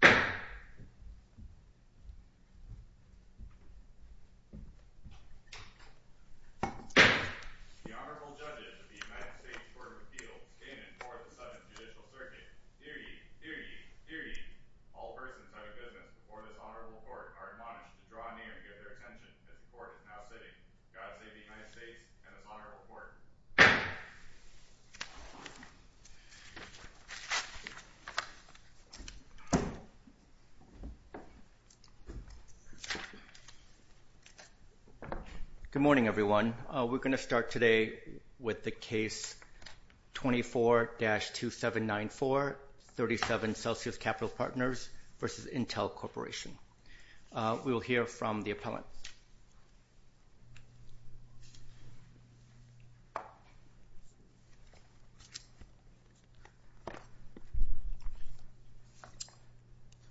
The Honorable Judges of the United States Court of Appeals came in for the subject of judicial circuit. Hear ye! Hear ye! Hear ye! All persons under business before this Honorable Court are admonished to draw near and give their attention as the Court is now sitting. God save the United States and this Honorable Court. Good morning, everyone. We're going to start today with the case 24-2794, 37 Celsius Capital Partners v. Intel Corporation. We will hear from the appellant.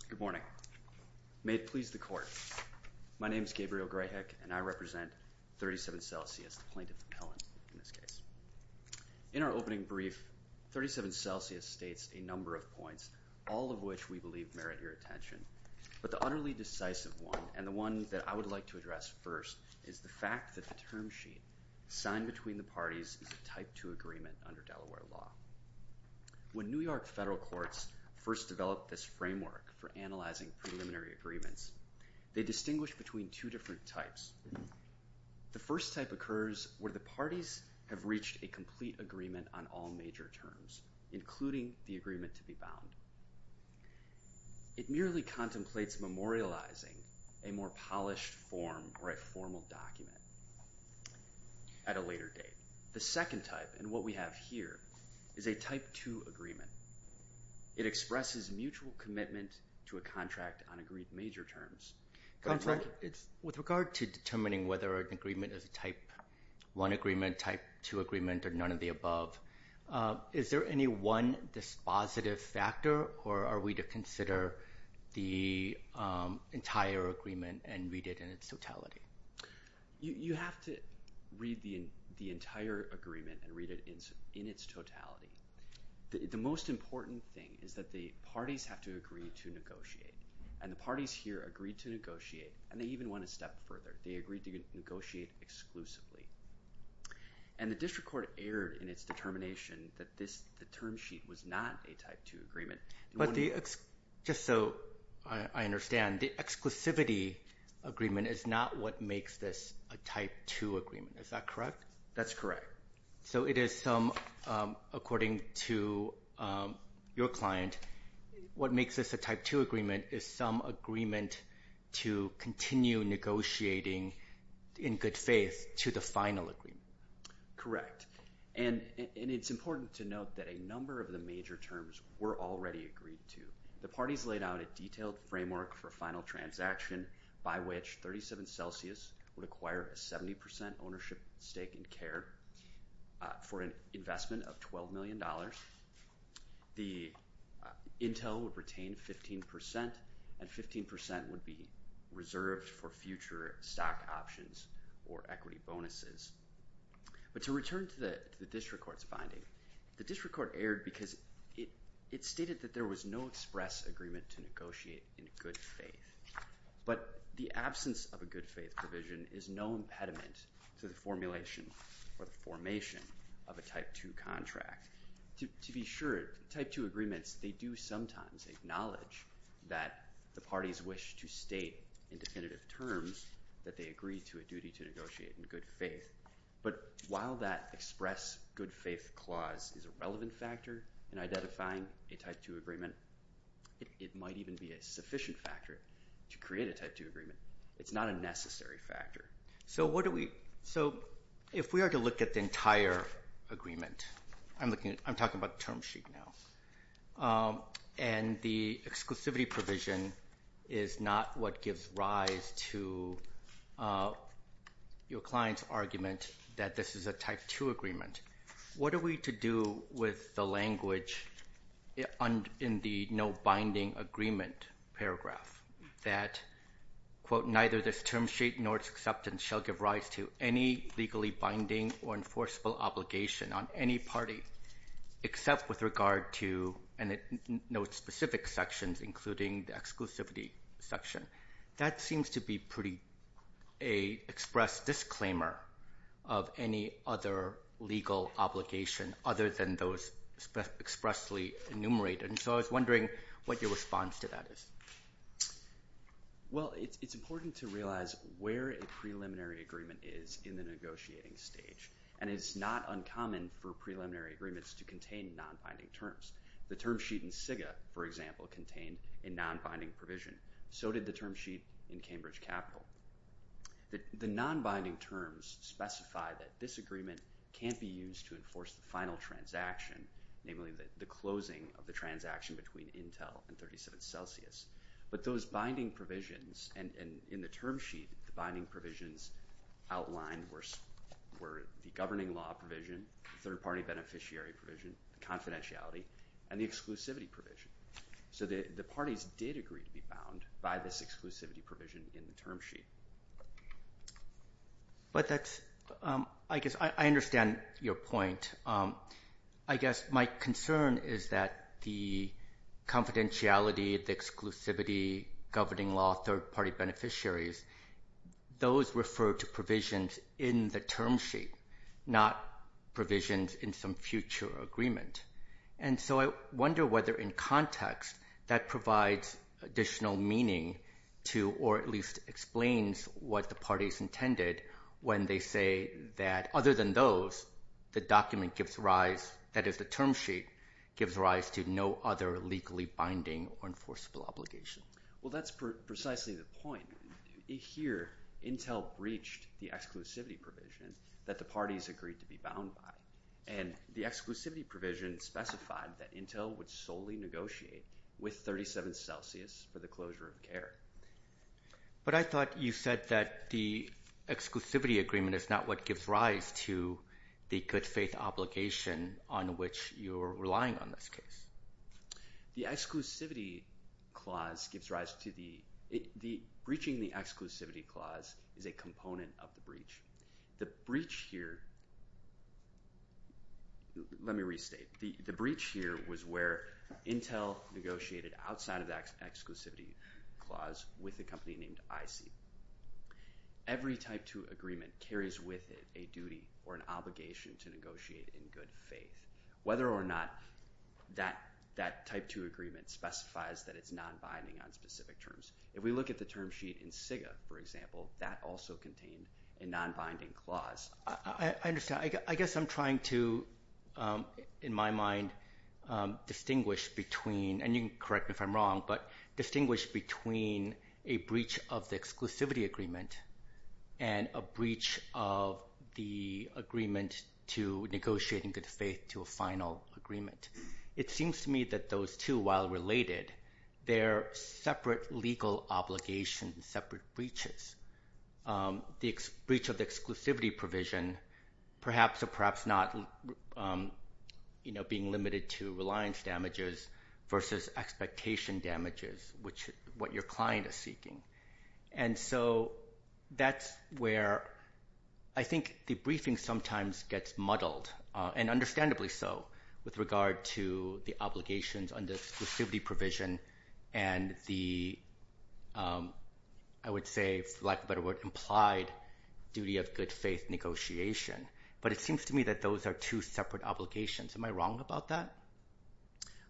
Good morning. May it please the Court, my name is Gabriel Gray-Hick and I represent 37 Celsius, the plaintiff's appellant in this case. In our opening brief, 37 Celsius states a number of points, all of which we believe merit your attention. But the utterly decisive one, and the one that I would like to address first, is the fact that the term sheet signed between the parties is a Type II agreement under Delaware law. When New York federal courts first developed this framework for analyzing preliminary agreements, they distinguished between two different types. The first type occurs where the parties have reached a complete agreement on all major terms, including the agreement to be bound. It merely contemplates memorializing a more polished form or a formal document at a later date. The second type, and what we have here, is a Type II agreement. It expresses mutual commitment to a contract on agreed major terms. With regard to determining whether an agreement is a Type I agreement, Type II agreement, or none of the above, is there any one dispositive factor, or are we to consider the entire agreement and read it in its totality? You have to read the entire agreement and read it in its totality. The most important thing is that the parties have to agree to negotiate, and the parties here agreed to negotiate, and they even went a step further. They agreed to negotiate exclusively. And the district court erred in its determination that the term sheet was not a Type II agreement. But just so I understand, the exclusivity agreement is not what makes this a Type II agreement. Is that correct? That's correct. So it is some, according to your client, what makes this a Type II agreement is some agreement to continue negotiating in good faith to the final agreement. Correct. And it's important to note that a number of the major terms were already agreed to. The parties laid out a detailed framework for final transaction by which 37 Celsius would acquire a 70% ownership stake in CARE for an investment of $12 million. The Intel would retain 15%, and 15% would be reserved for future stock options or equity bonuses. But to return to the district court's finding, the district court erred because it stated that there was no express agreement to negotiate in good faith. But the absence of a good faith provision is no impediment to the formulation or the formation of a Type II contract. To be sure, Type II agreements, they do sometimes acknowledge that the parties wish to state in definitive terms that they agree to a duty to negotiate in good faith. But while that express good faith clause is a relevant factor in identifying a Type II agreement, it might even be a sufficient factor to create a Type II agreement. It's not a necessary factor. So if we are to look at the entire agreement, I'm talking about the term sheet now, and the exclusivity provision is not what gives rise to your client's argument that this is a Type II agreement. What are we to do with the language in the no binding agreement paragraph that, quote, neither this term sheet nor its acceptance shall give rise to any legally binding or enforceable obligation on any party, except with regard to, and it notes specific sections, including the exclusivity section. That seems to be a pretty express disclaimer of any other legal obligation other than those expressly enumerated. So I was wondering what your response to that is. Well, it's important to realize where a preliminary agreement is in the negotiating stage, and it's not uncommon for preliminary agreements to contain non-binding terms. The term sheet in SIGA, for example, contained a non-binding provision. So did the term sheet in Cambridge Capital. The non-binding terms specify that this agreement can't be used to enforce the final transaction, namely the closing of the transaction between Intel and 37 Celsius. But those binding provisions, and in the term sheet, the binding provisions outlined were the governing law provision, third-party beneficiary provision, confidentiality, and the exclusivity provision. So the parties did agree to be bound by this exclusivity provision in the term sheet. But that's, I guess, I understand your point. I guess my concern is that the confidentiality, the exclusivity, governing law, third-party beneficiaries, those refer to provisions in the term sheet, not provisions in some future agreement. And so I wonder whether in context that provides additional meaning to, or at least explains what the parties intended when they say that other than those, the document gives rise, that is the term sheet, gives rise to no other legally binding or enforceable obligation. Well, that's precisely the point. Here, Intel breached the exclusivity provision that the parties agreed to be bound by. And the exclusivity provision specified that Intel would solely negotiate with 37 Celsius for the closure of care. But I thought you said that the exclusivity agreement is not what gives rise to the good faith obligation on which you're relying on this case. The exclusivity clause gives rise to the – breaching the exclusivity clause is a component of the breach. The breach here – let me restate. The breach here was where Intel negotiated outside of the exclusivity clause with a company named IC. Every Type 2 agreement carries with it a duty or an obligation to negotiate in good faith. Whether or not that Type 2 agreement specifies that it's non-binding on specific terms. If we look at the term sheet in SIGA, for example, that also contained a non-binding clause. I understand. I guess I'm trying to, in my mind, distinguish between – and you can correct me if I'm wrong – but distinguish between a breach of the exclusivity agreement and a breach of the agreement to negotiate in good faith to a final agreement. It seems to me that those two, while related, they're separate legal obligations, separate breaches. The breach of the exclusivity provision perhaps or perhaps not being limited to reliance damages versus expectation damages, which is what your client is seeking. And so that's where I think the briefing sometimes gets muddled, and understandably so, with regard to the obligations on the exclusivity provision and the, I would say, for lack of a better word, implied duty of good faith negotiation. But it seems to me that those are two separate obligations. Am I wrong about that?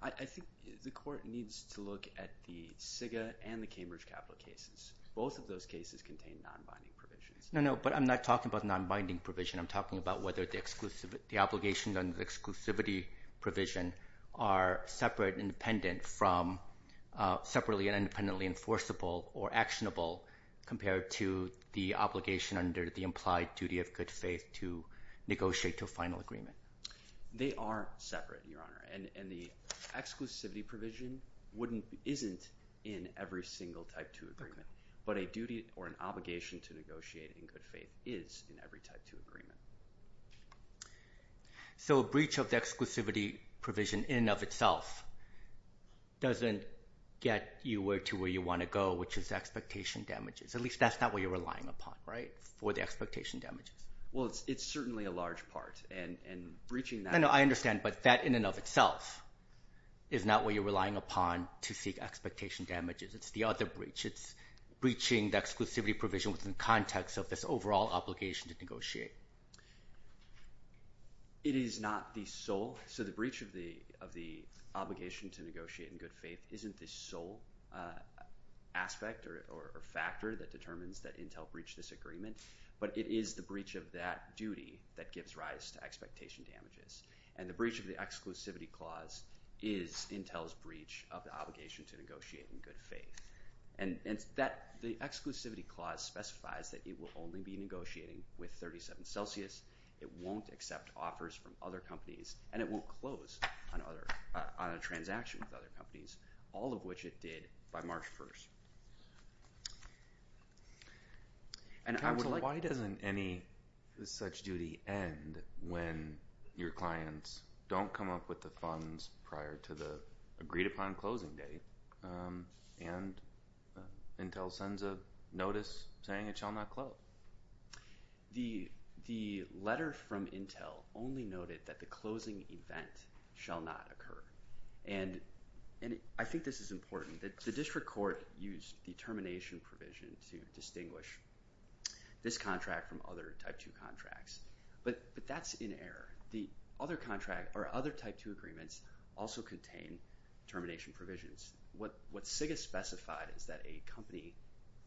I think the court needs to look at the SIGA and the Cambridge capital cases. Both of those cases contain non-binding provisions. No, no, but I'm not talking about non-binding provision. I'm talking about whether the obligations under the exclusivity provision are separate and independent from – separately and independently enforceable or actionable compared to the obligation under the implied duty of good faith to negotiate to a final agreement. They are separate, Your Honor, and the exclusivity provision isn't in every single Type 2 agreement. But a duty or an obligation to negotiate in good faith is in every Type 2 agreement. So a breach of the exclusivity provision in and of itself doesn't get you to where you want to go, which is expectation damages. At least that's not what you're relying upon, right, for the expectation damages. Well, it's certainly a large part, and breaching that – No, no, I understand, but that in and of itself is not what you're relying upon to seek expectation damages. It's the other breach. It's breaching the exclusivity provision within the context of this overall obligation to negotiate. It is not the sole – so the breach of the obligation to negotiate in good faith isn't the sole aspect or factor that determines that Intel breached this agreement, but it is the breach of that duty that gives rise to expectation damages. And the breach of the exclusivity clause is Intel's breach of the obligation to negotiate in good faith. And the exclusivity clause specifies that it will only be negotiating with 37 Celsius. It won't accept offers from other companies, and it won't close on a transaction with other companies, all of which it did by March 1st. Counsel, why doesn't any such duty end when your clients don't come up with the funds prior to the agreed-upon closing date, and Intel sends a notice saying it shall not close? The letter from Intel only noted that the closing event shall not occur. And I think this is important. The district court used the termination provision to distinguish this contract from other Type 2 contracts, but that's in error. The other contract or other Type 2 agreements also contain termination provisions. What SIG has specified is that a company,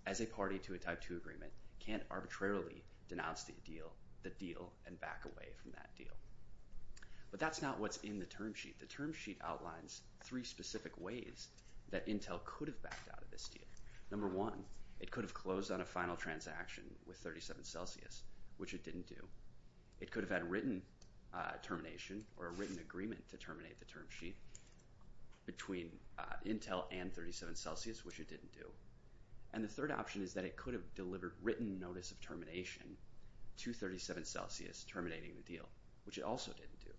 as a party to a Type 2 agreement, can't arbitrarily denounce the deal and back away from that deal. But that's not what's in the term sheet. The term sheet outlines three specific ways that Intel could have backed out of this deal. Number one, it could have closed on a final transaction with 37 Celsius, which it didn't do. It could have had a written termination or a written agreement to terminate the term sheet between Intel and 37 Celsius, which it didn't do. And the third option is that it could have delivered written notice of termination to 37 Celsius terminating the deal, which it also didn't do.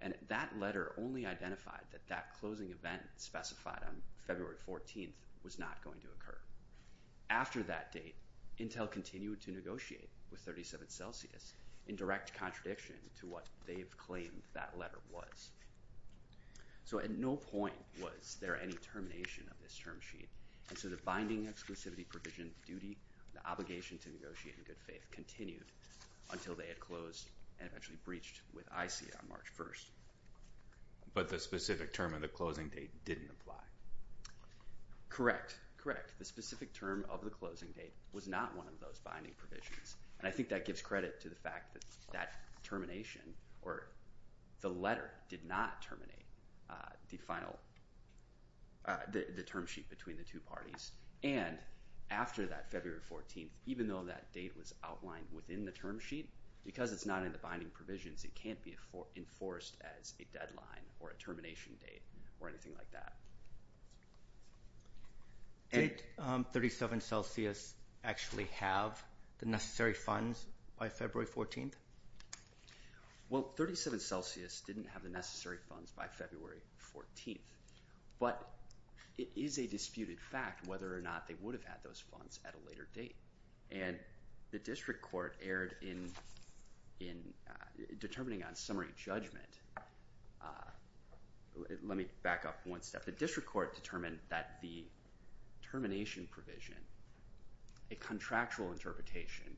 And that letter only identified that that closing event specified on February 14th was not going to occur. After that date, Intel continued to negotiate with 37 Celsius in direct contradiction to what they've claimed that letter was. So at no point was there any termination of this term sheet. And so the binding exclusivity provision duty, the obligation to negotiate in good faith, continued until they had closed and eventually breached with IC on March 1st. But the specific term of the closing date didn't apply. Correct. Correct. The specific term of the closing date was not one of those binding provisions. And I think that gives credit to the fact that that termination or the letter did not terminate the term sheet between the two parties. And after that, February 14th, even though that date was outlined within the term sheet, because it's not in the binding provisions, it can't be enforced as a deadline or a termination date or anything like that. Did 37 Celsius actually have the necessary funds by February 14th? Well, 37 Celsius didn't have the necessary funds by February 14th. But it is a disputed fact whether or not they would have had those funds at a later date. And the district court erred in determining on summary judgment. Let me back up one step. The district court determined that the termination provision, a contractual interpretation,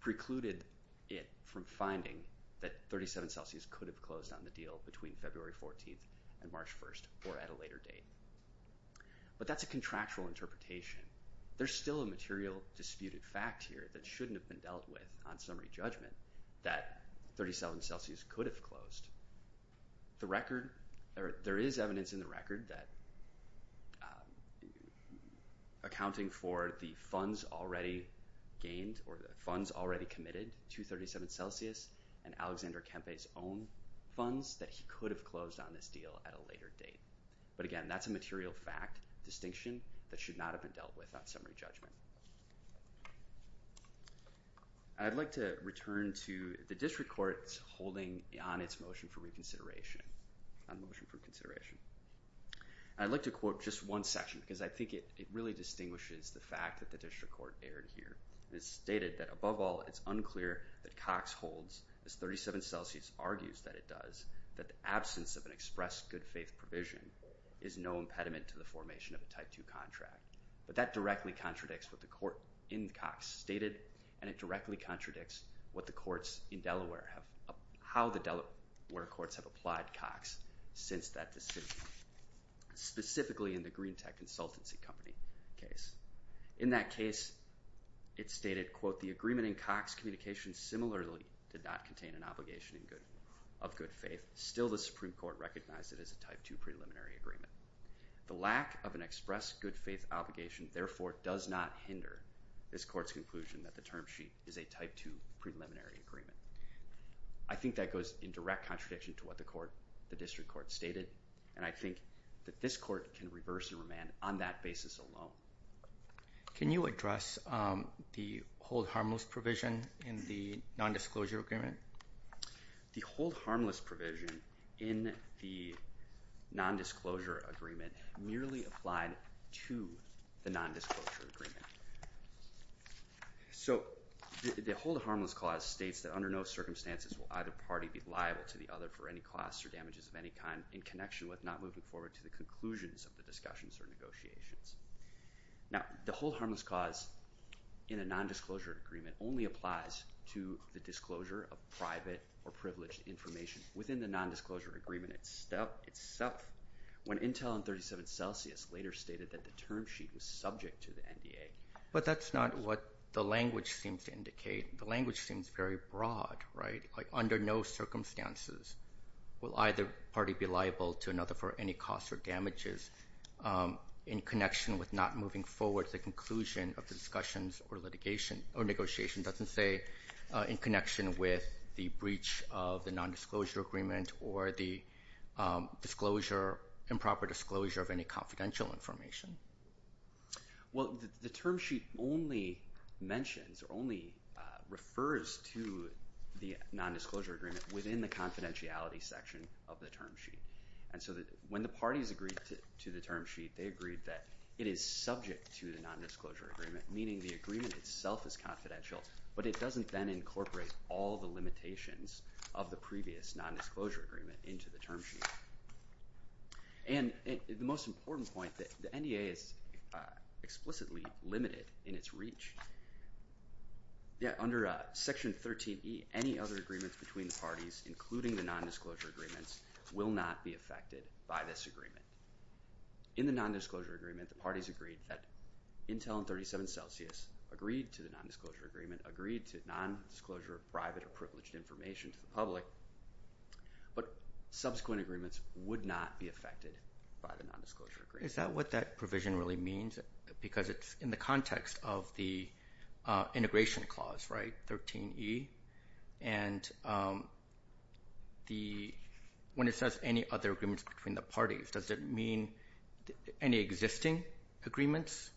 precluded it from finding that 37 Celsius could have closed on the deal between February 14th and March 1st or at a later date. But that's a contractual interpretation. There's still a material disputed fact here that shouldn't have been dealt with on summary judgment that 37 Celsius could have closed. There is evidence in the record that accounting for the funds already gained or the funds already committed to 37 Celsius and Alexander Kempe's own funds that he could have closed on this deal at a later date. But again, that's a material fact distinction that should not have been dealt with on summary judgment. I'd like to return to the district court's holding on its motion for reconsideration. I'd like to quote just one section because I think it really distinguishes the fact that the district court erred here. It stated that, above all, it's unclear that Cox holds, as 37 Celsius argues that it does, that the absence of an express good faith provision is no impediment to the formation of a Type 2 contract. But that directly contradicts what the court in Cox stated and it directly contradicts what the courts in Delaware have, how the Delaware courts have applied Cox since that decision, specifically in the Greentech Consultancy Company case. In that case, it stated, quote, the agreement in Cox communications similarly did not contain an obligation of good faith. Still, the Supreme Court recognized it as a Type 2 preliminary agreement. The lack of an express good faith obligation, therefore, does not hinder this court's conclusion that the term sheet is a Type 2 preliminary agreement. I think that goes in direct contradiction to what the court, the district court stated, and I think that this court can reverse and remand on that basis alone. Can you address the hold harmless provision in the nondisclosure agreement? The hold harmless provision in the nondisclosure agreement merely applied to the nondisclosure agreement. So the hold harmless clause states that under no circumstances will either party be liable to the other for any costs or damages of any kind in connection with not moving forward to the conclusions of the discussions or negotiations. Now, the hold harmless clause in a nondisclosure agreement only applies to the disclosure of private or privileged information. Within the nondisclosure agreement itself, when Intel and 37 Celsius later stated that the term sheet was subject to the NDA. But that's not what the language seems to indicate. The language seems very broad, right? Under no circumstances will either party be liable to another for any costs or damages in connection with not moving forward to the conclusion of the discussions or litigation or negotiation. It doesn't say in connection with the breach of the nondisclosure agreement or the improper disclosure of any confidential information. Well, the term sheet only mentions or only refers to the nondisclosure agreement within the confidentiality section of the term sheet. And so when the parties agreed to the term sheet, they agreed that it is subject to the nondisclosure agreement, meaning the agreement itself is confidential. But it doesn't then incorporate all the limitations of the previous nondisclosure agreement into the term sheet. And the most important point, the NDA is explicitly limited in its reach. Under Section 13E, any other agreements between the parties, including the nondisclosure agreements, will not be affected by this agreement. In the nondisclosure agreement, the parties agreed that Intel and 37 Celsius agreed to the nondisclosure agreement, agreed to nondisclosure of private or privileged information to the public. But subsequent agreements would not be affected by the nondisclosure agreement. Is that what that provision really means? Because it's in the context of the integration clause, right, 13E? And when it says any other agreements between the parties, does it mean any existing agreements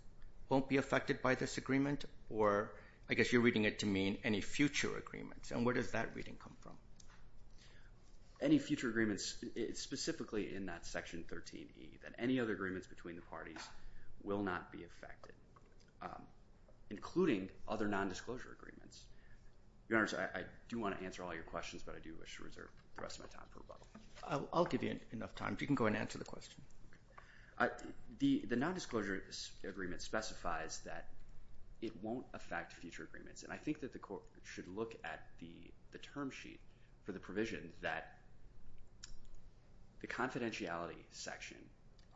won't be affected by this agreement? Or I guess you're reading it to mean any future agreements. And where does that reading come from? Any future agreements, specifically in that Section 13E, that any other agreements between the parties will not be affected, including other nondisclosure agreements. Your Honor, I do want to answer all your questions, but I do wish to reserve the rest of my time for rebuttal. I'll give you enough time. If you can go ahead and answer the question. The nondisclosure agreement specifies that it won't affect future agreements. And I think that the Court should look at the term sheet for the provision that the confidentiality section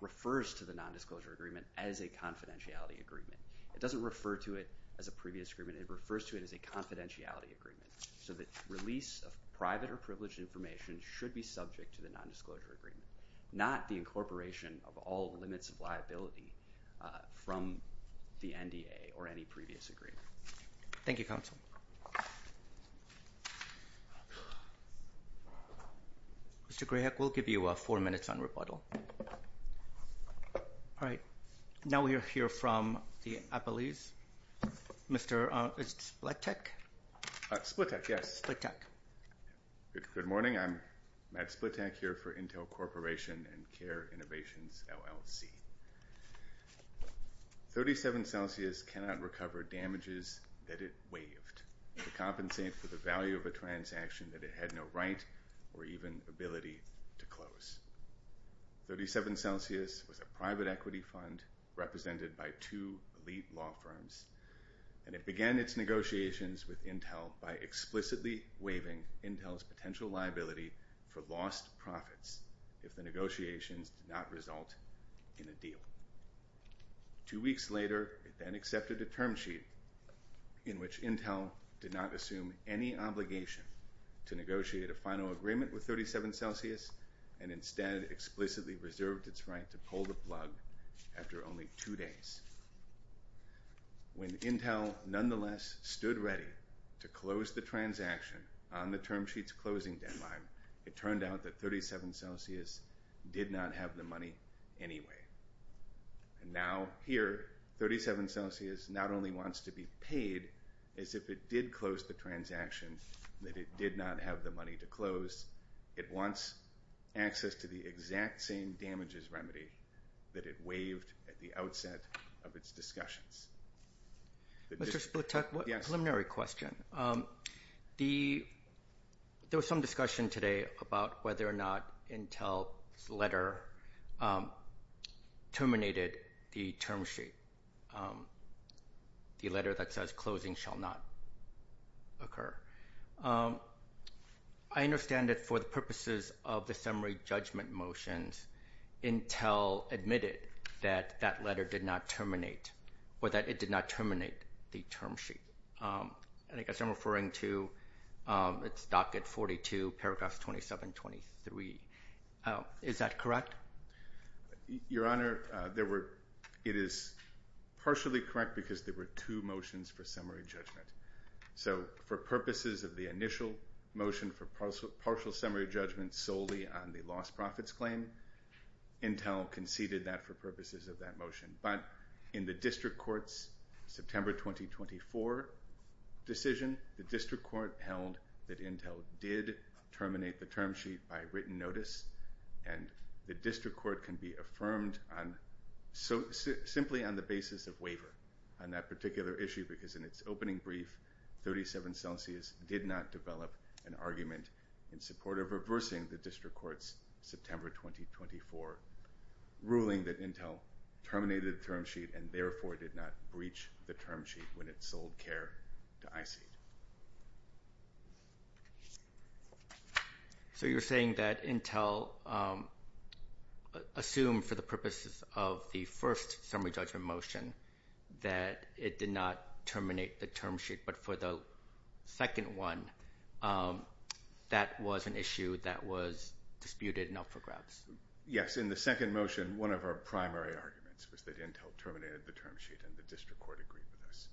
refers to the nondisclosure agreement as a confidentiality agreement. It doesn't refer to it as a previous agreement. It refers to it as a confidentiality agreement, so that release of private or privileged information should be subject to the nondisclosure agreement, not the incorporation of all limits of liability from the NDA or any previous agreement. Thank you, Counsel. Mr. Grahek, we'll give you four minutes on rebuttal. All right. Now we'll hear from the appellees. Mr. Splitek? Splitek, yes. Splitek. Good morning. I'm Matt Splitek here for Intel Corporation and CARE Innovations, LLC. 37 Celsius cannot recover damages that it waived to compensate for the value of a transaction that it had no right or even ability to close. 37 Celsius was a private equity fund represented by two elite law firms, and it began its negotiations with Intel by explicitly waiving Intel's potential liability for lost profits if the negotiations did not result in a deal. Two weeks later, it then accepted a term sheet in which Intel did not assume any obligation to negotiate a final agreement with 37 Celsius and instead explicitly reserved its right to pull the plug after only two days. When Intel nonetheless stood ready to close the transaction on the term sheet's closing deadline, it turned out that 37 Celsius did not have the money anyway. And now here, 37 Celsius not only wants to be paid as if it did close the transaction that it did not have the money to close, it wants access to the exact same damages remedy that it waived at the outset of its discussions. Mr. Splitek, a preliminary question. There was some discussion today about whether or not Intel's letter terminated the term sheet, the letter that says closing shall not occur. I understand that for the purposes of the summary judgment motions, Intel admitted that that letter did not terminate or that it did not terminate the term sheet. I guess I'm referring to its docket 42, paragraph 2723. Is that correct? Your Honor, it is partially correct because there were two motions for summary judgment. So for purposes of the initial motion for partial summary judgment solely on the lost profits claim, Intel conceded that for purposes of that motion. But in the district court's September 2024 decision, the district court held that Intel did terminate the term sheet by written notice and the district court can be affirmed simply on the basis of waiver on that particular issue because in its opening brief, 37 Celsius did not develop an argument in support of reversing the district court's September 2024 ruling that Intel terminated the term sheet and therefore did not breach the term sheet when it sold CARE to IC. So you're saying that Intel assumed for the purposes of the first summary judgment motion that it did not terminate the term sheet, but for the second one, that was an issue that was disputed and up for grabs. Yes, in the second motion, one of our primary arguments was that Intel terminated the term sheet and the district court agreed with us.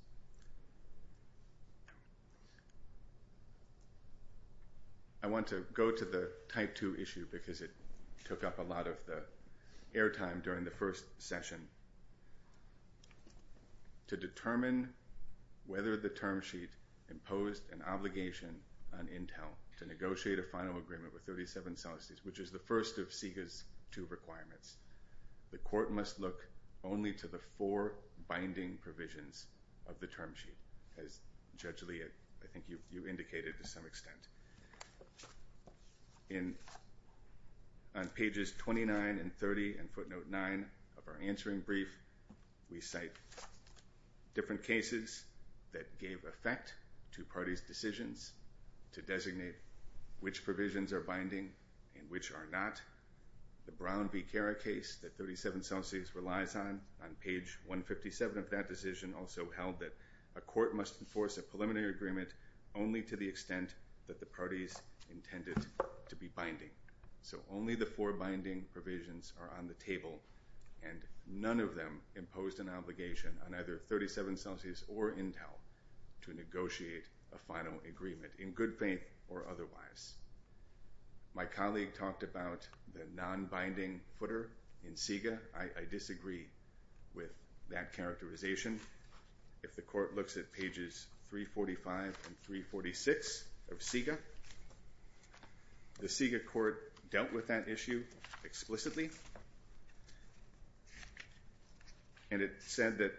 I want to go to the Type 2 issue because it took up a lot of the airtime during the first session. To determine whether the term sheet imposed an obligation on Intel to negotiate a final agreement with 37 Celsius, which is the first of SIGA's two requirements, the court must look only to the four binding provisions of the term sheet, as Judge Lee, I think you indicated to some extent. On pages 29 and 30 and footnote 9 of our answering brief, we cite different cases that gave effect to parties' decisions to designate which provisions are binding and which are not. The Brown v. Cara case that 37 Celsius relies on, on page 157 of that decision, also held that a court must enforce a preliminary agreement only to the extent that the parties intended to be binding. So only the four binding provisions are on the table and none of them imposed an obligation on either 37 Celsius or Intel to negotiate a final agreement in good faith or otherwise. My colleague talked about the non-binding footer in SIGA. I disagree with that characterization. If the court looks at pages 345 and 346 of SIGA, the SIGA court dealt with that issue explicitly. And it said that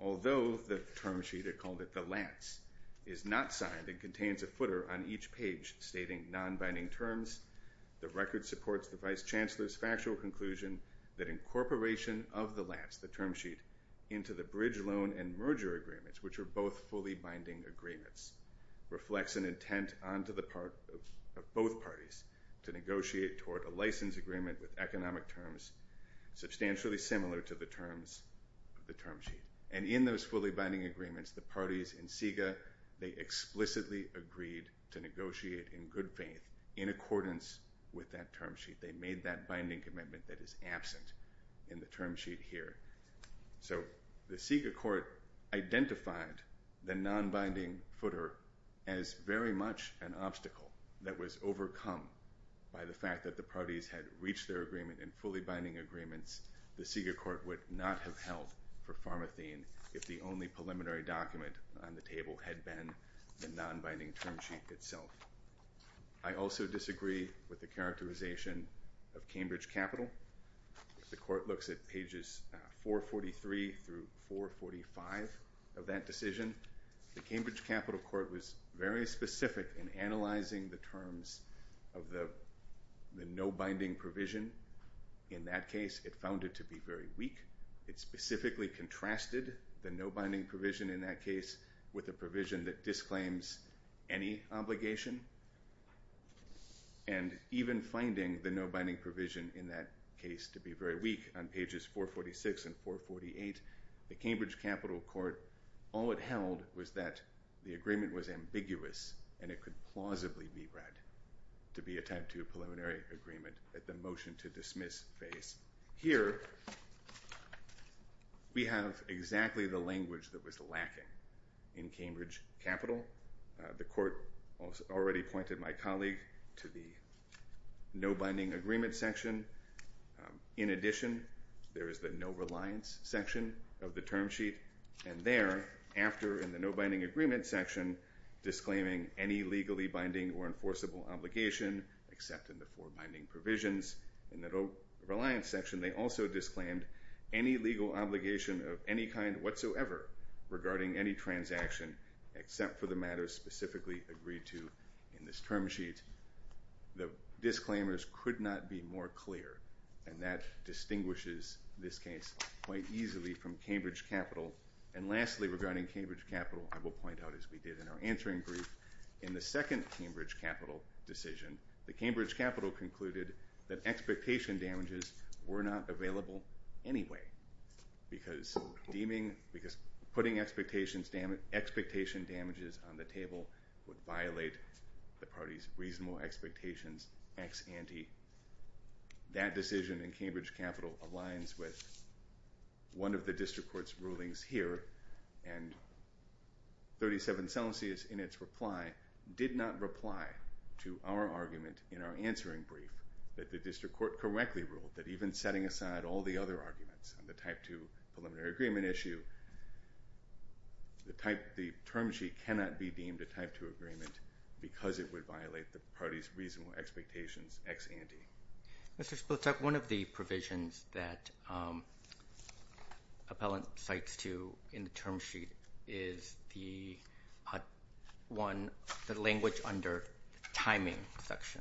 although the term sheet, they called it the lance, is not signed and contains a footer on each page stating non-binding terms, the record supports the vice chancellor's factual conclusion that incorporation of the lance, the term sheet, into the bridge loan and merger agreements, which are both fully binding agreements, reflects an intent onto the part of both parties to negotiate toward a license agreement with economic terms substantially similar to the terms of the term sheet. And in those fully binding agreements, the parties in SIGA, they explicitly agreed to negotiate in good faith in accordance with that term sheet. They made that binding commitment that is absent in the term sheet here. So the SIGA court identified the non-binding footer as very much an obstacle that was overcome by the fact that the parties had reached their agreement in fully binding agreements. The SIGA court would not have held for pharmathene if the only preliminary document on the table had been the non-binding term sheet itself. I also disagree with the characterization of Cambridge Capital. The court looks at pages 443 through 445 of that decision. The Cambridge Capital court was very specific in analyzing the terms of the no-binding provision. In that case, it found it to be very weak. It specifically contrasted the no-binding provision in that case with a provision that disclaims any obligation. And even finding the no-binding provision in that case to be very weak on pages 446 and 448, the Cambridge Capital court, all it held was that the agreement was ambiguous and it could plausibly be read to be a type two preliminary agreement at the motion to dismiss phase. Here, we have exactly the language that was lacking in Cambridge Capital. The court already pointed my colleague to the no-binding agreement section. In addition, there is the no-reliance section of the term sheet. And there, after in the no-binding agreement section, disclaiming any legally binding or enforceable obligation except in the four binding provisions, in the no-reliance section, they also disclaimed any legal obligation of any kind whatsoever regarding any transaction except for the matter specifically agreed to in this term sheet. The disclaimers could not be more clear. And that distinguishes this case quite easily from Cambridge Capital. And lastly, regarding Cambridge Capital, I will point out as we did in our answering brief, in the second Cambridge Capital decision, the Cambridge Capital concluded that expectation damages were not available anyway, because putting expectation damages on the table would violate the party's reasonable expectations ex ante. That decision in Cambridge Capital aligns with one of the district court's rulings here, and 37 Celsius, in its reply, did not reply to our argument in our answering brief that the district court correctly ruled that even setting aside all the other arguments on the Type 2 Preliminary Agreement issue, the term sheet cannot be deemed a Type 2 agreement because it would violate the party's reasonable expectations ex ante. Mr. Splitak, one of the provisions that appellant cites in the term sheet is the language under timing section.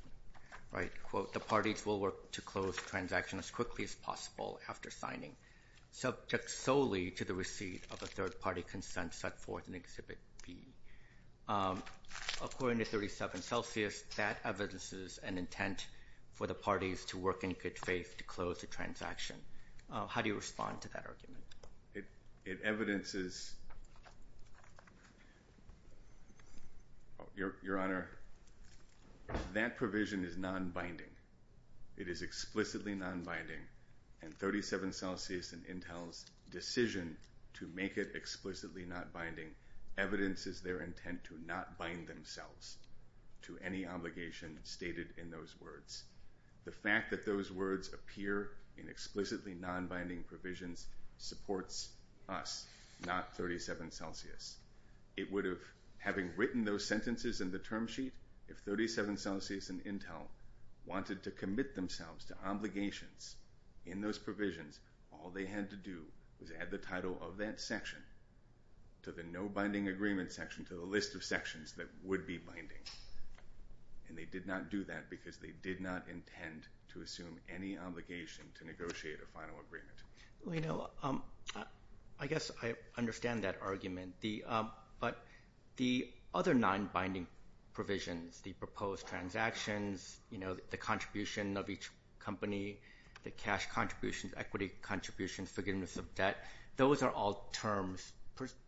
Quote, the parties will work to close the transaction as quickly as possible after signing, subject solely to the receipt of a third-party consent set forth in Exhibit B. According to 37 Celsius, that evidences an intent for the parties to work in good faith to close the transaction. How do you respond to that argument? It evidences, Your Honor, that provision is non-binding. It is explicitly non-binding, and 37 Celsius and Intel's decision to make it explicitly non-binding evidences their intent to not bind themselves to any obligation stated in those words. The fact that those words appear in explicitly non-binding provisions supports us, not 37 Celsius. It would have, having written those sentences in the term sheet, if 37 Celsius and Intel wanted to commit themselves to obligations in those provisions, all they had to do was add the title of that section to the no-binding agreement section, to the list of sections that would be binding. And they did not do that because they did not intend to assume any obligation to negotiate a final agreement. Well, you know, I guess I understand that argument. But the other non-binding provisions, the proposed transactions, you know, the contribution of each company, the cash contributions, equity contributions, forgiveness of debt, those are all terms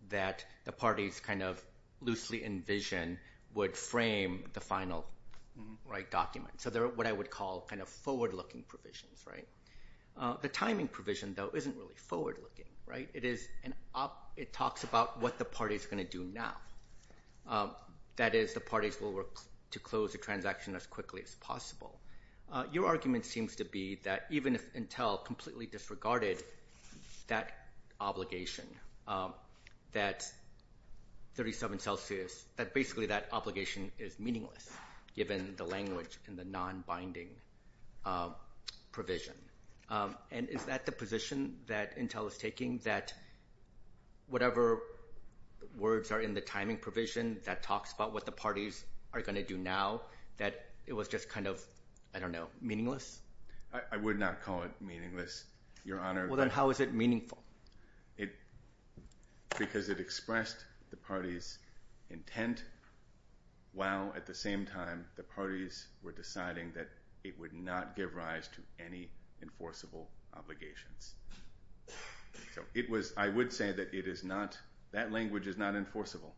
that the parties kind of loosely envision would frame the final document. So they're what I would call kind of forward-looking provisions. The timing provision, though, isn't really forward-looking. It talks about what the party is going to do now. That is, the parties will work to close the transaction as quickly as possible. Your argument seems to be that even if Intel completely disregarded that obligation, that 37 Celsius, that basically that obligation is meaningless given the language in the non-binding provision. And is that the position that Intel is taking, that whatever words are in the timing provision that talks about what the parties are going to do now, that it was just kind of, I don't know, meaningless? I would not call it meaningless, Your Honor. Well, then how is it meaningful? Because it expressed the parties' intent while at the same time the parties were deciding that it would not give rise to any enforceable obligations. So it was, I would say that it is not, that language is not enforceable.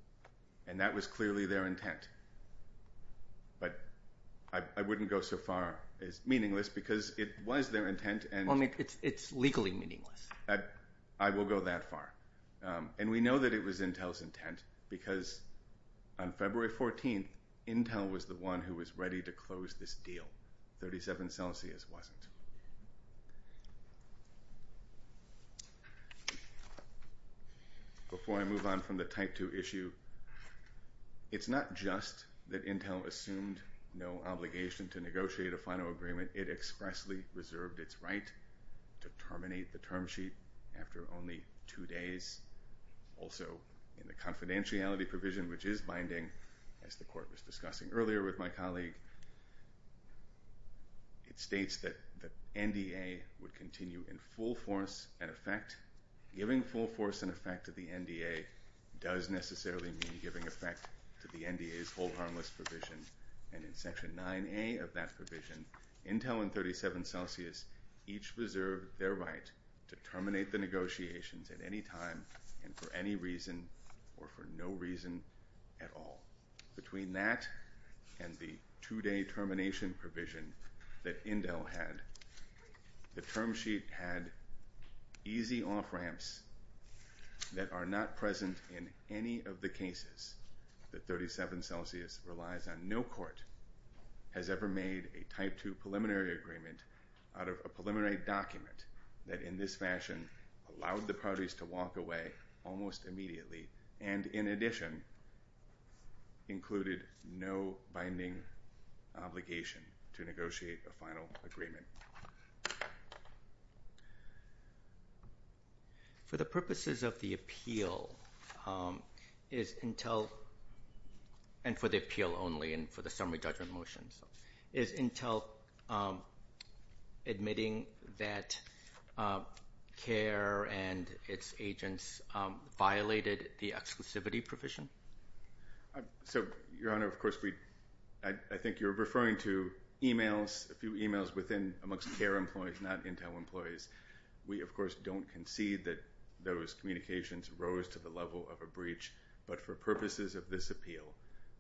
And that was clearly their intent. But I wouldn't go so far as meaningless because it was their intent and Well, it's legally meaningless. I will go that far. And we know that it was Intel's intent because on February 14th, Intel was the one who was ready to close this deal. 37 Celsius wasn't. Before I move on from the Type 2 issue, it's not just that Intel assumed no obligation to negotiate a final agreement. It expressly reserved its right to terminate the term sheet after only two days. Also, in the confidentiality provision, which is binding, as the Court was discussing earlier with my colleague, it states that the NDA would continue in full force and effect. Giving full force and effect to the NDA does necessarily mean giving effect to the NDA's whole harmless provision. And in Section 9A of that provision, Intel and 37 Celsius each reserved their right to terminate the negotiations at any time and for any reason or for no reason at all. Between that and the two-day termination provision that Intel had, the term sheet had easy off-ramps that are not present in any of the cases that 37 Celsius relies on. No court has ever made a Type 2 preliminary agreement out of a preliminary document that in this fashion allowed the parties to walk away almost immediately and, in addition, included no binding obligation to negotiate a final agreement. For the purposes of the appeal, and for the appeal only and for the summary judgment motion, is Intel admitting that CARE and its agents violated the exclusivity provision? So, Your Honor, of course, I think you're referring to emails, a few emails amongst CARE employees, not Intel employees. We, of course, don't concede that those communications rose to the level of a breach, but for purposes of this appeal,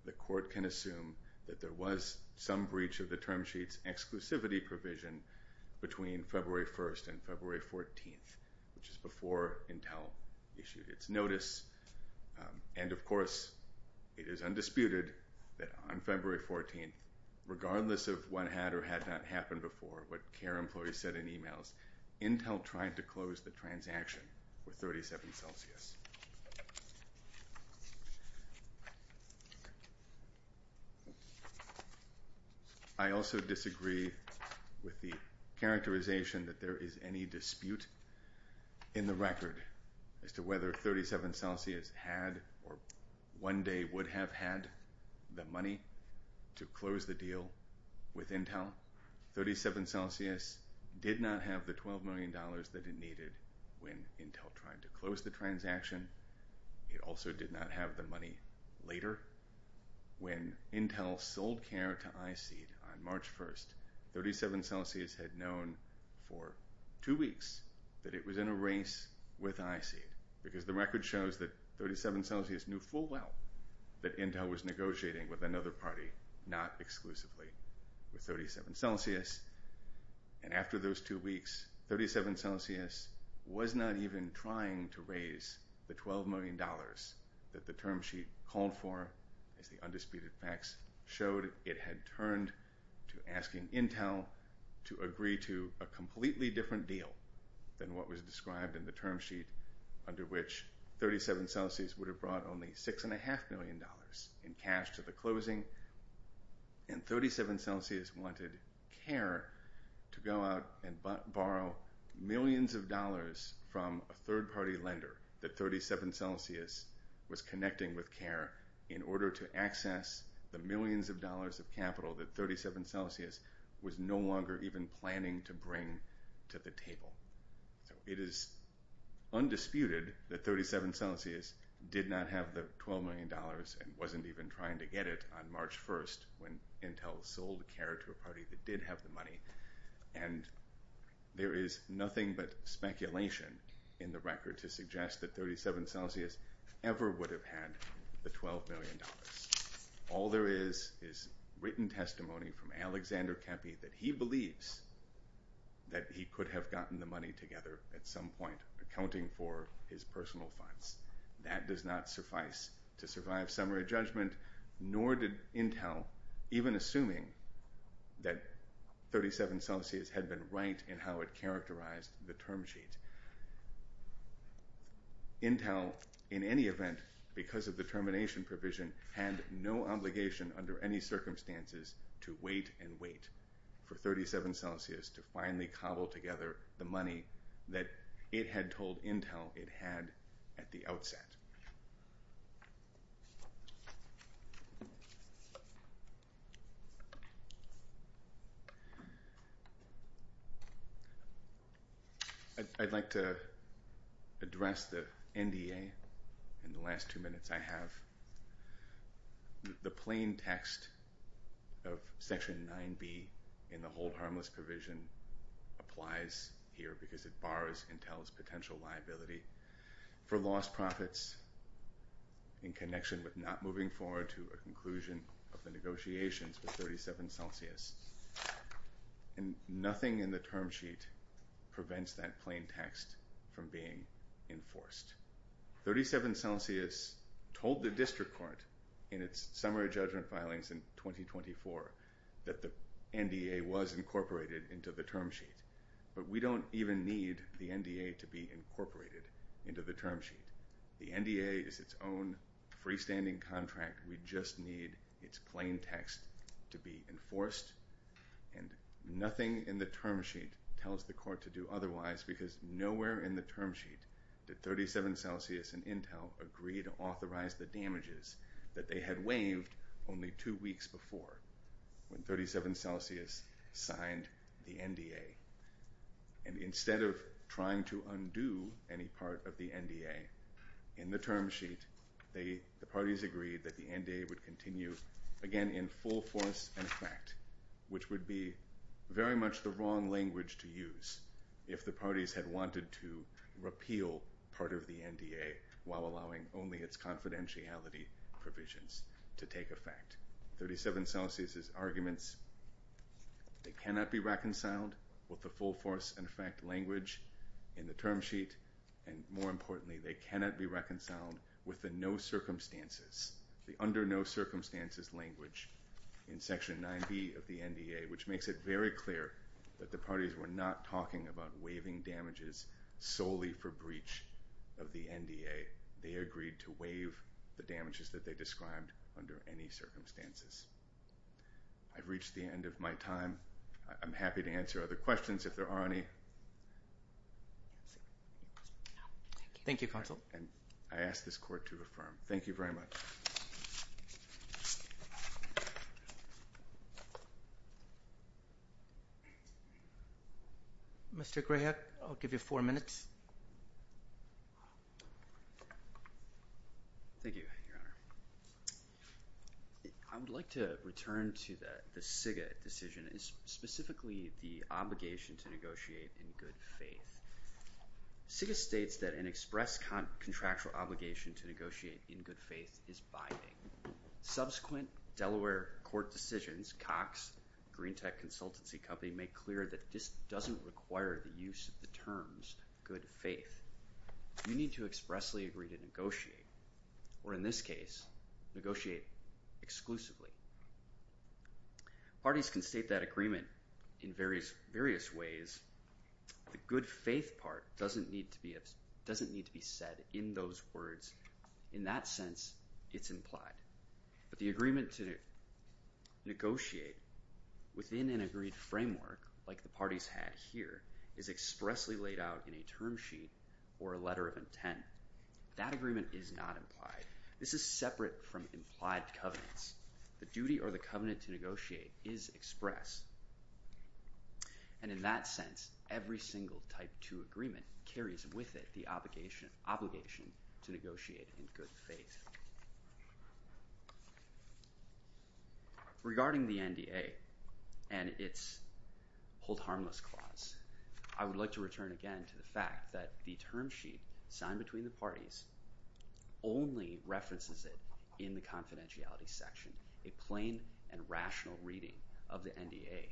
the court can assume that there was some breach of the term sheet's exclusivity provision between February 1st and February 14th, which is before Intel issued its notice. And, of course, it is undisputed that on February 14th, regardless of what had or had not happened before, what CARE employees said in emails, Intel tried to close the transaction with 37 Celsius. I also disagree with the characterization that there is any dispute in the record as to whether 37 Celsius had or one day would have had the money to close the deal with Intel. 37 Celsius did not have the $12 million that it needed when Intel tried to close the transaction. It also did not have the money later. When Intel sold CARE to iSEED on March 1st, 37 Celsius had known for two weeks that it was in a race with iSEED because the record shows that 37 Celsius knew full well that Intel was negotiating with another party, not exclusively with 37 Celsius. And after those two weeks, 37 Celsius was not even trying to raise the $12 million that the term sheet called for as the undisputed facts showed it had turned to asking Intel to agree to a completely different deal than what was described in the term sheet under which 37 Celsius would have brought only $6.5 million in cash to the closing and 37 Celsius wanted CARE to go out and borrow millions of dollars from a third-party lender that 37 Celsius was connecting with CARE in order to access the millions of dollars of capital that 37 Celsius was no longer even planning to bring to the table. So it is undisputed that 37 Celsius did not have the $12 million and wasn't even trying to get it on March 1st when Intel sold CARE to a party that did have the money and there is nothing but speculation in the record to suggest that 37 Celsius ever would have had the $12 million. All there is is written testimony from Alexander Cappy that he believes that he could have gotten the money together at some point accounting for his personal funds. That does not suffice to survive summary judgment, nor did Intel, even assuming that 37 Celsius had been right in how it characterized the term sheet. Intel, in any event, because of the termination provision, had no obligation under any circumstances to wait and wait for 37 Celsius to finally cobble together the money that it had told Intel it had at the outset. I'd like to address the NDA in the last two minutes I have. The plain text of Section 9B in the Hold Harmless provision applies here because it bars Intel's potential liability for lost profits in connection with not moving forward to a conclusion of the negotiations with 37 Celsius. And nothing in the term sheet prevents that plain text from being enforced. 37 Celsius told the District Court in its summary judgment filings in 2024 that the NDA was incorporated into the term sheet, but we don't even need the NDA to be incorporated into the term sheet. The NDA is its own freestanding contract. We just need its plain text to be enforced. And nothing in the term sheet tells the Court to do otherwise because nowhere in the term sheet did 37 Celsius and Intel agree to authorize the damages that they had waived only two weeks before, when 37 Celsius signed the NDA. And instead of trying to undo any part of the NDA in the term sheet, the parties agreed that the NDA would continue again in full force and effect, which would be very much the wrong language to use if the parties had wanted to repeal part of the NDA while allowing only its confidentiality provisions to take effect. 37 Celsius' arguments, they cannot be reconciled with the full force and effect language in the term sheet, and more importantly, they cannot be reconciled with the no circumstances, the under no circumstances language in Section 9b of the NDA, which makes it very clear that the parties were not talking about waiving damages solely for breach of the NDA. They agreed to waive the damages that they described under any circumstances. I've reached the end of my time. I'm happy to answer other questions if there are any. Thank you, Counsel. And I ask this Court to affirm. Thank you very much. Mr. Grayhead, I'll give you four minutes. Thank you, Your Honor. I would like to return to the SIGA decision, specifically the obligation to negotiate in good faith. SIGA states that an express contractual obligation to negotiate in good faith is binding. Subsequent Delaware court decisions, Cox, Green Tech Consultancy Company, make clear that this doesn't require the use of the terms good faith. You need to expressly agree to negotiate, or in this case, negotiate exclusively. Parties can state that agreement in various ways. The good faith part doesn't need to be said in those words. In that sense, it's implied. But the agreement to negotiate within an agreed framework, like the parties had here, is expressly laid out in a term sheet or a letter of intent. That agreement is not implied. This is separate from implied covenants. The duty or the covenant to negotiate is express. And in that sense, every single type two agreement carries with it the obligation to negotiate in good faith. Regarding the NDA and its hold harmless clause, I would like to return again to the fact that the term sheet signed between the parties only references it in the confidentiality section. A plain and rational reading of the NDA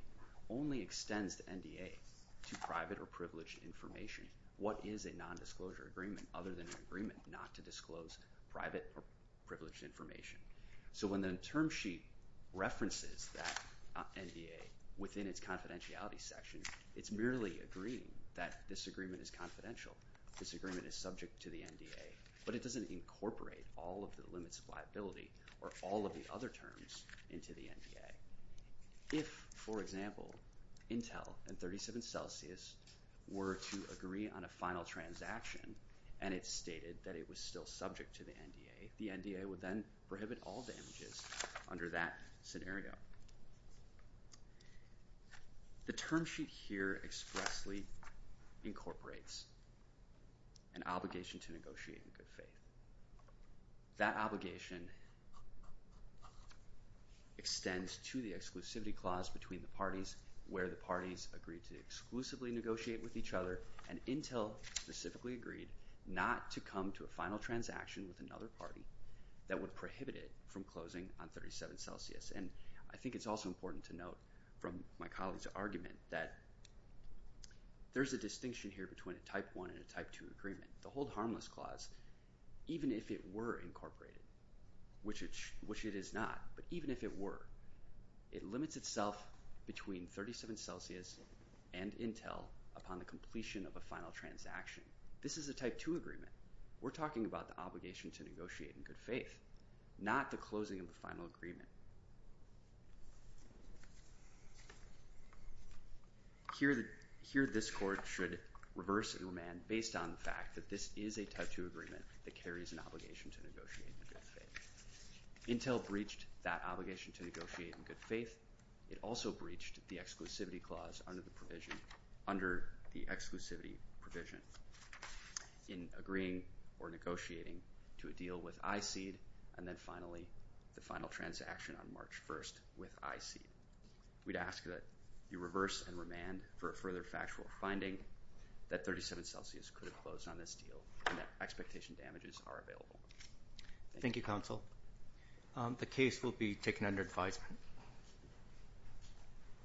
only extends the NDA to private or privileged information. What is a nondisclosure agreement other than an agreement not to disclose private or privileged information? So when the term sheet references that NDA within its confidentiality section, it's merely agreeing that this agreement is confidential. This agreement is subject to the NDA. But it doesn't incorporate all of the limits of liability or all of the other terms into the NDA. If, for example, Intel and 37 Celsius were to agree on a final transaction and it stated that it was still subject to the NDA, the NDA would then prohibit all damages under that scenario. The term sheet here expressly incorporates an obligation to negotiate in good faith. That obligation extends to the exclusivity clause between the parties where the parties agreed to exclusively negotiate with each other and Intel specifically agreed not to come to a final transaction with another party that would prohibit it from closing on 37 Celsius. And I think it's also important to note from my colleague's argument that there's a distinction here between a Type I and a Type II agreement. The hold harmless clause, even if it were incorporated, which it is not, but even if it were, it limits itself between 37 Celsius and Intel upon the completion of a final transaction. This is a Type II agreement. We're talking about the obligation to negotiate in good faith, not the closing of the final agreement. Here this Court should reverse and remand based on the fact that this is a Type II agreement that carries an obligation to negotiate in good faith. Intel breached that obligation to negotiate in good faith. It also breached the exclusivity clause under the exclusivity provision in agreeing or negotiating to a deal with iSEED and then finally the final transaction on March 1st with iSEED. We'd ask that you reverse and remand for a further factual finding that 37 Celsius could have closed on this deal and that expectation damages are available. Thank you, Counsel. The case will be taken under advisement.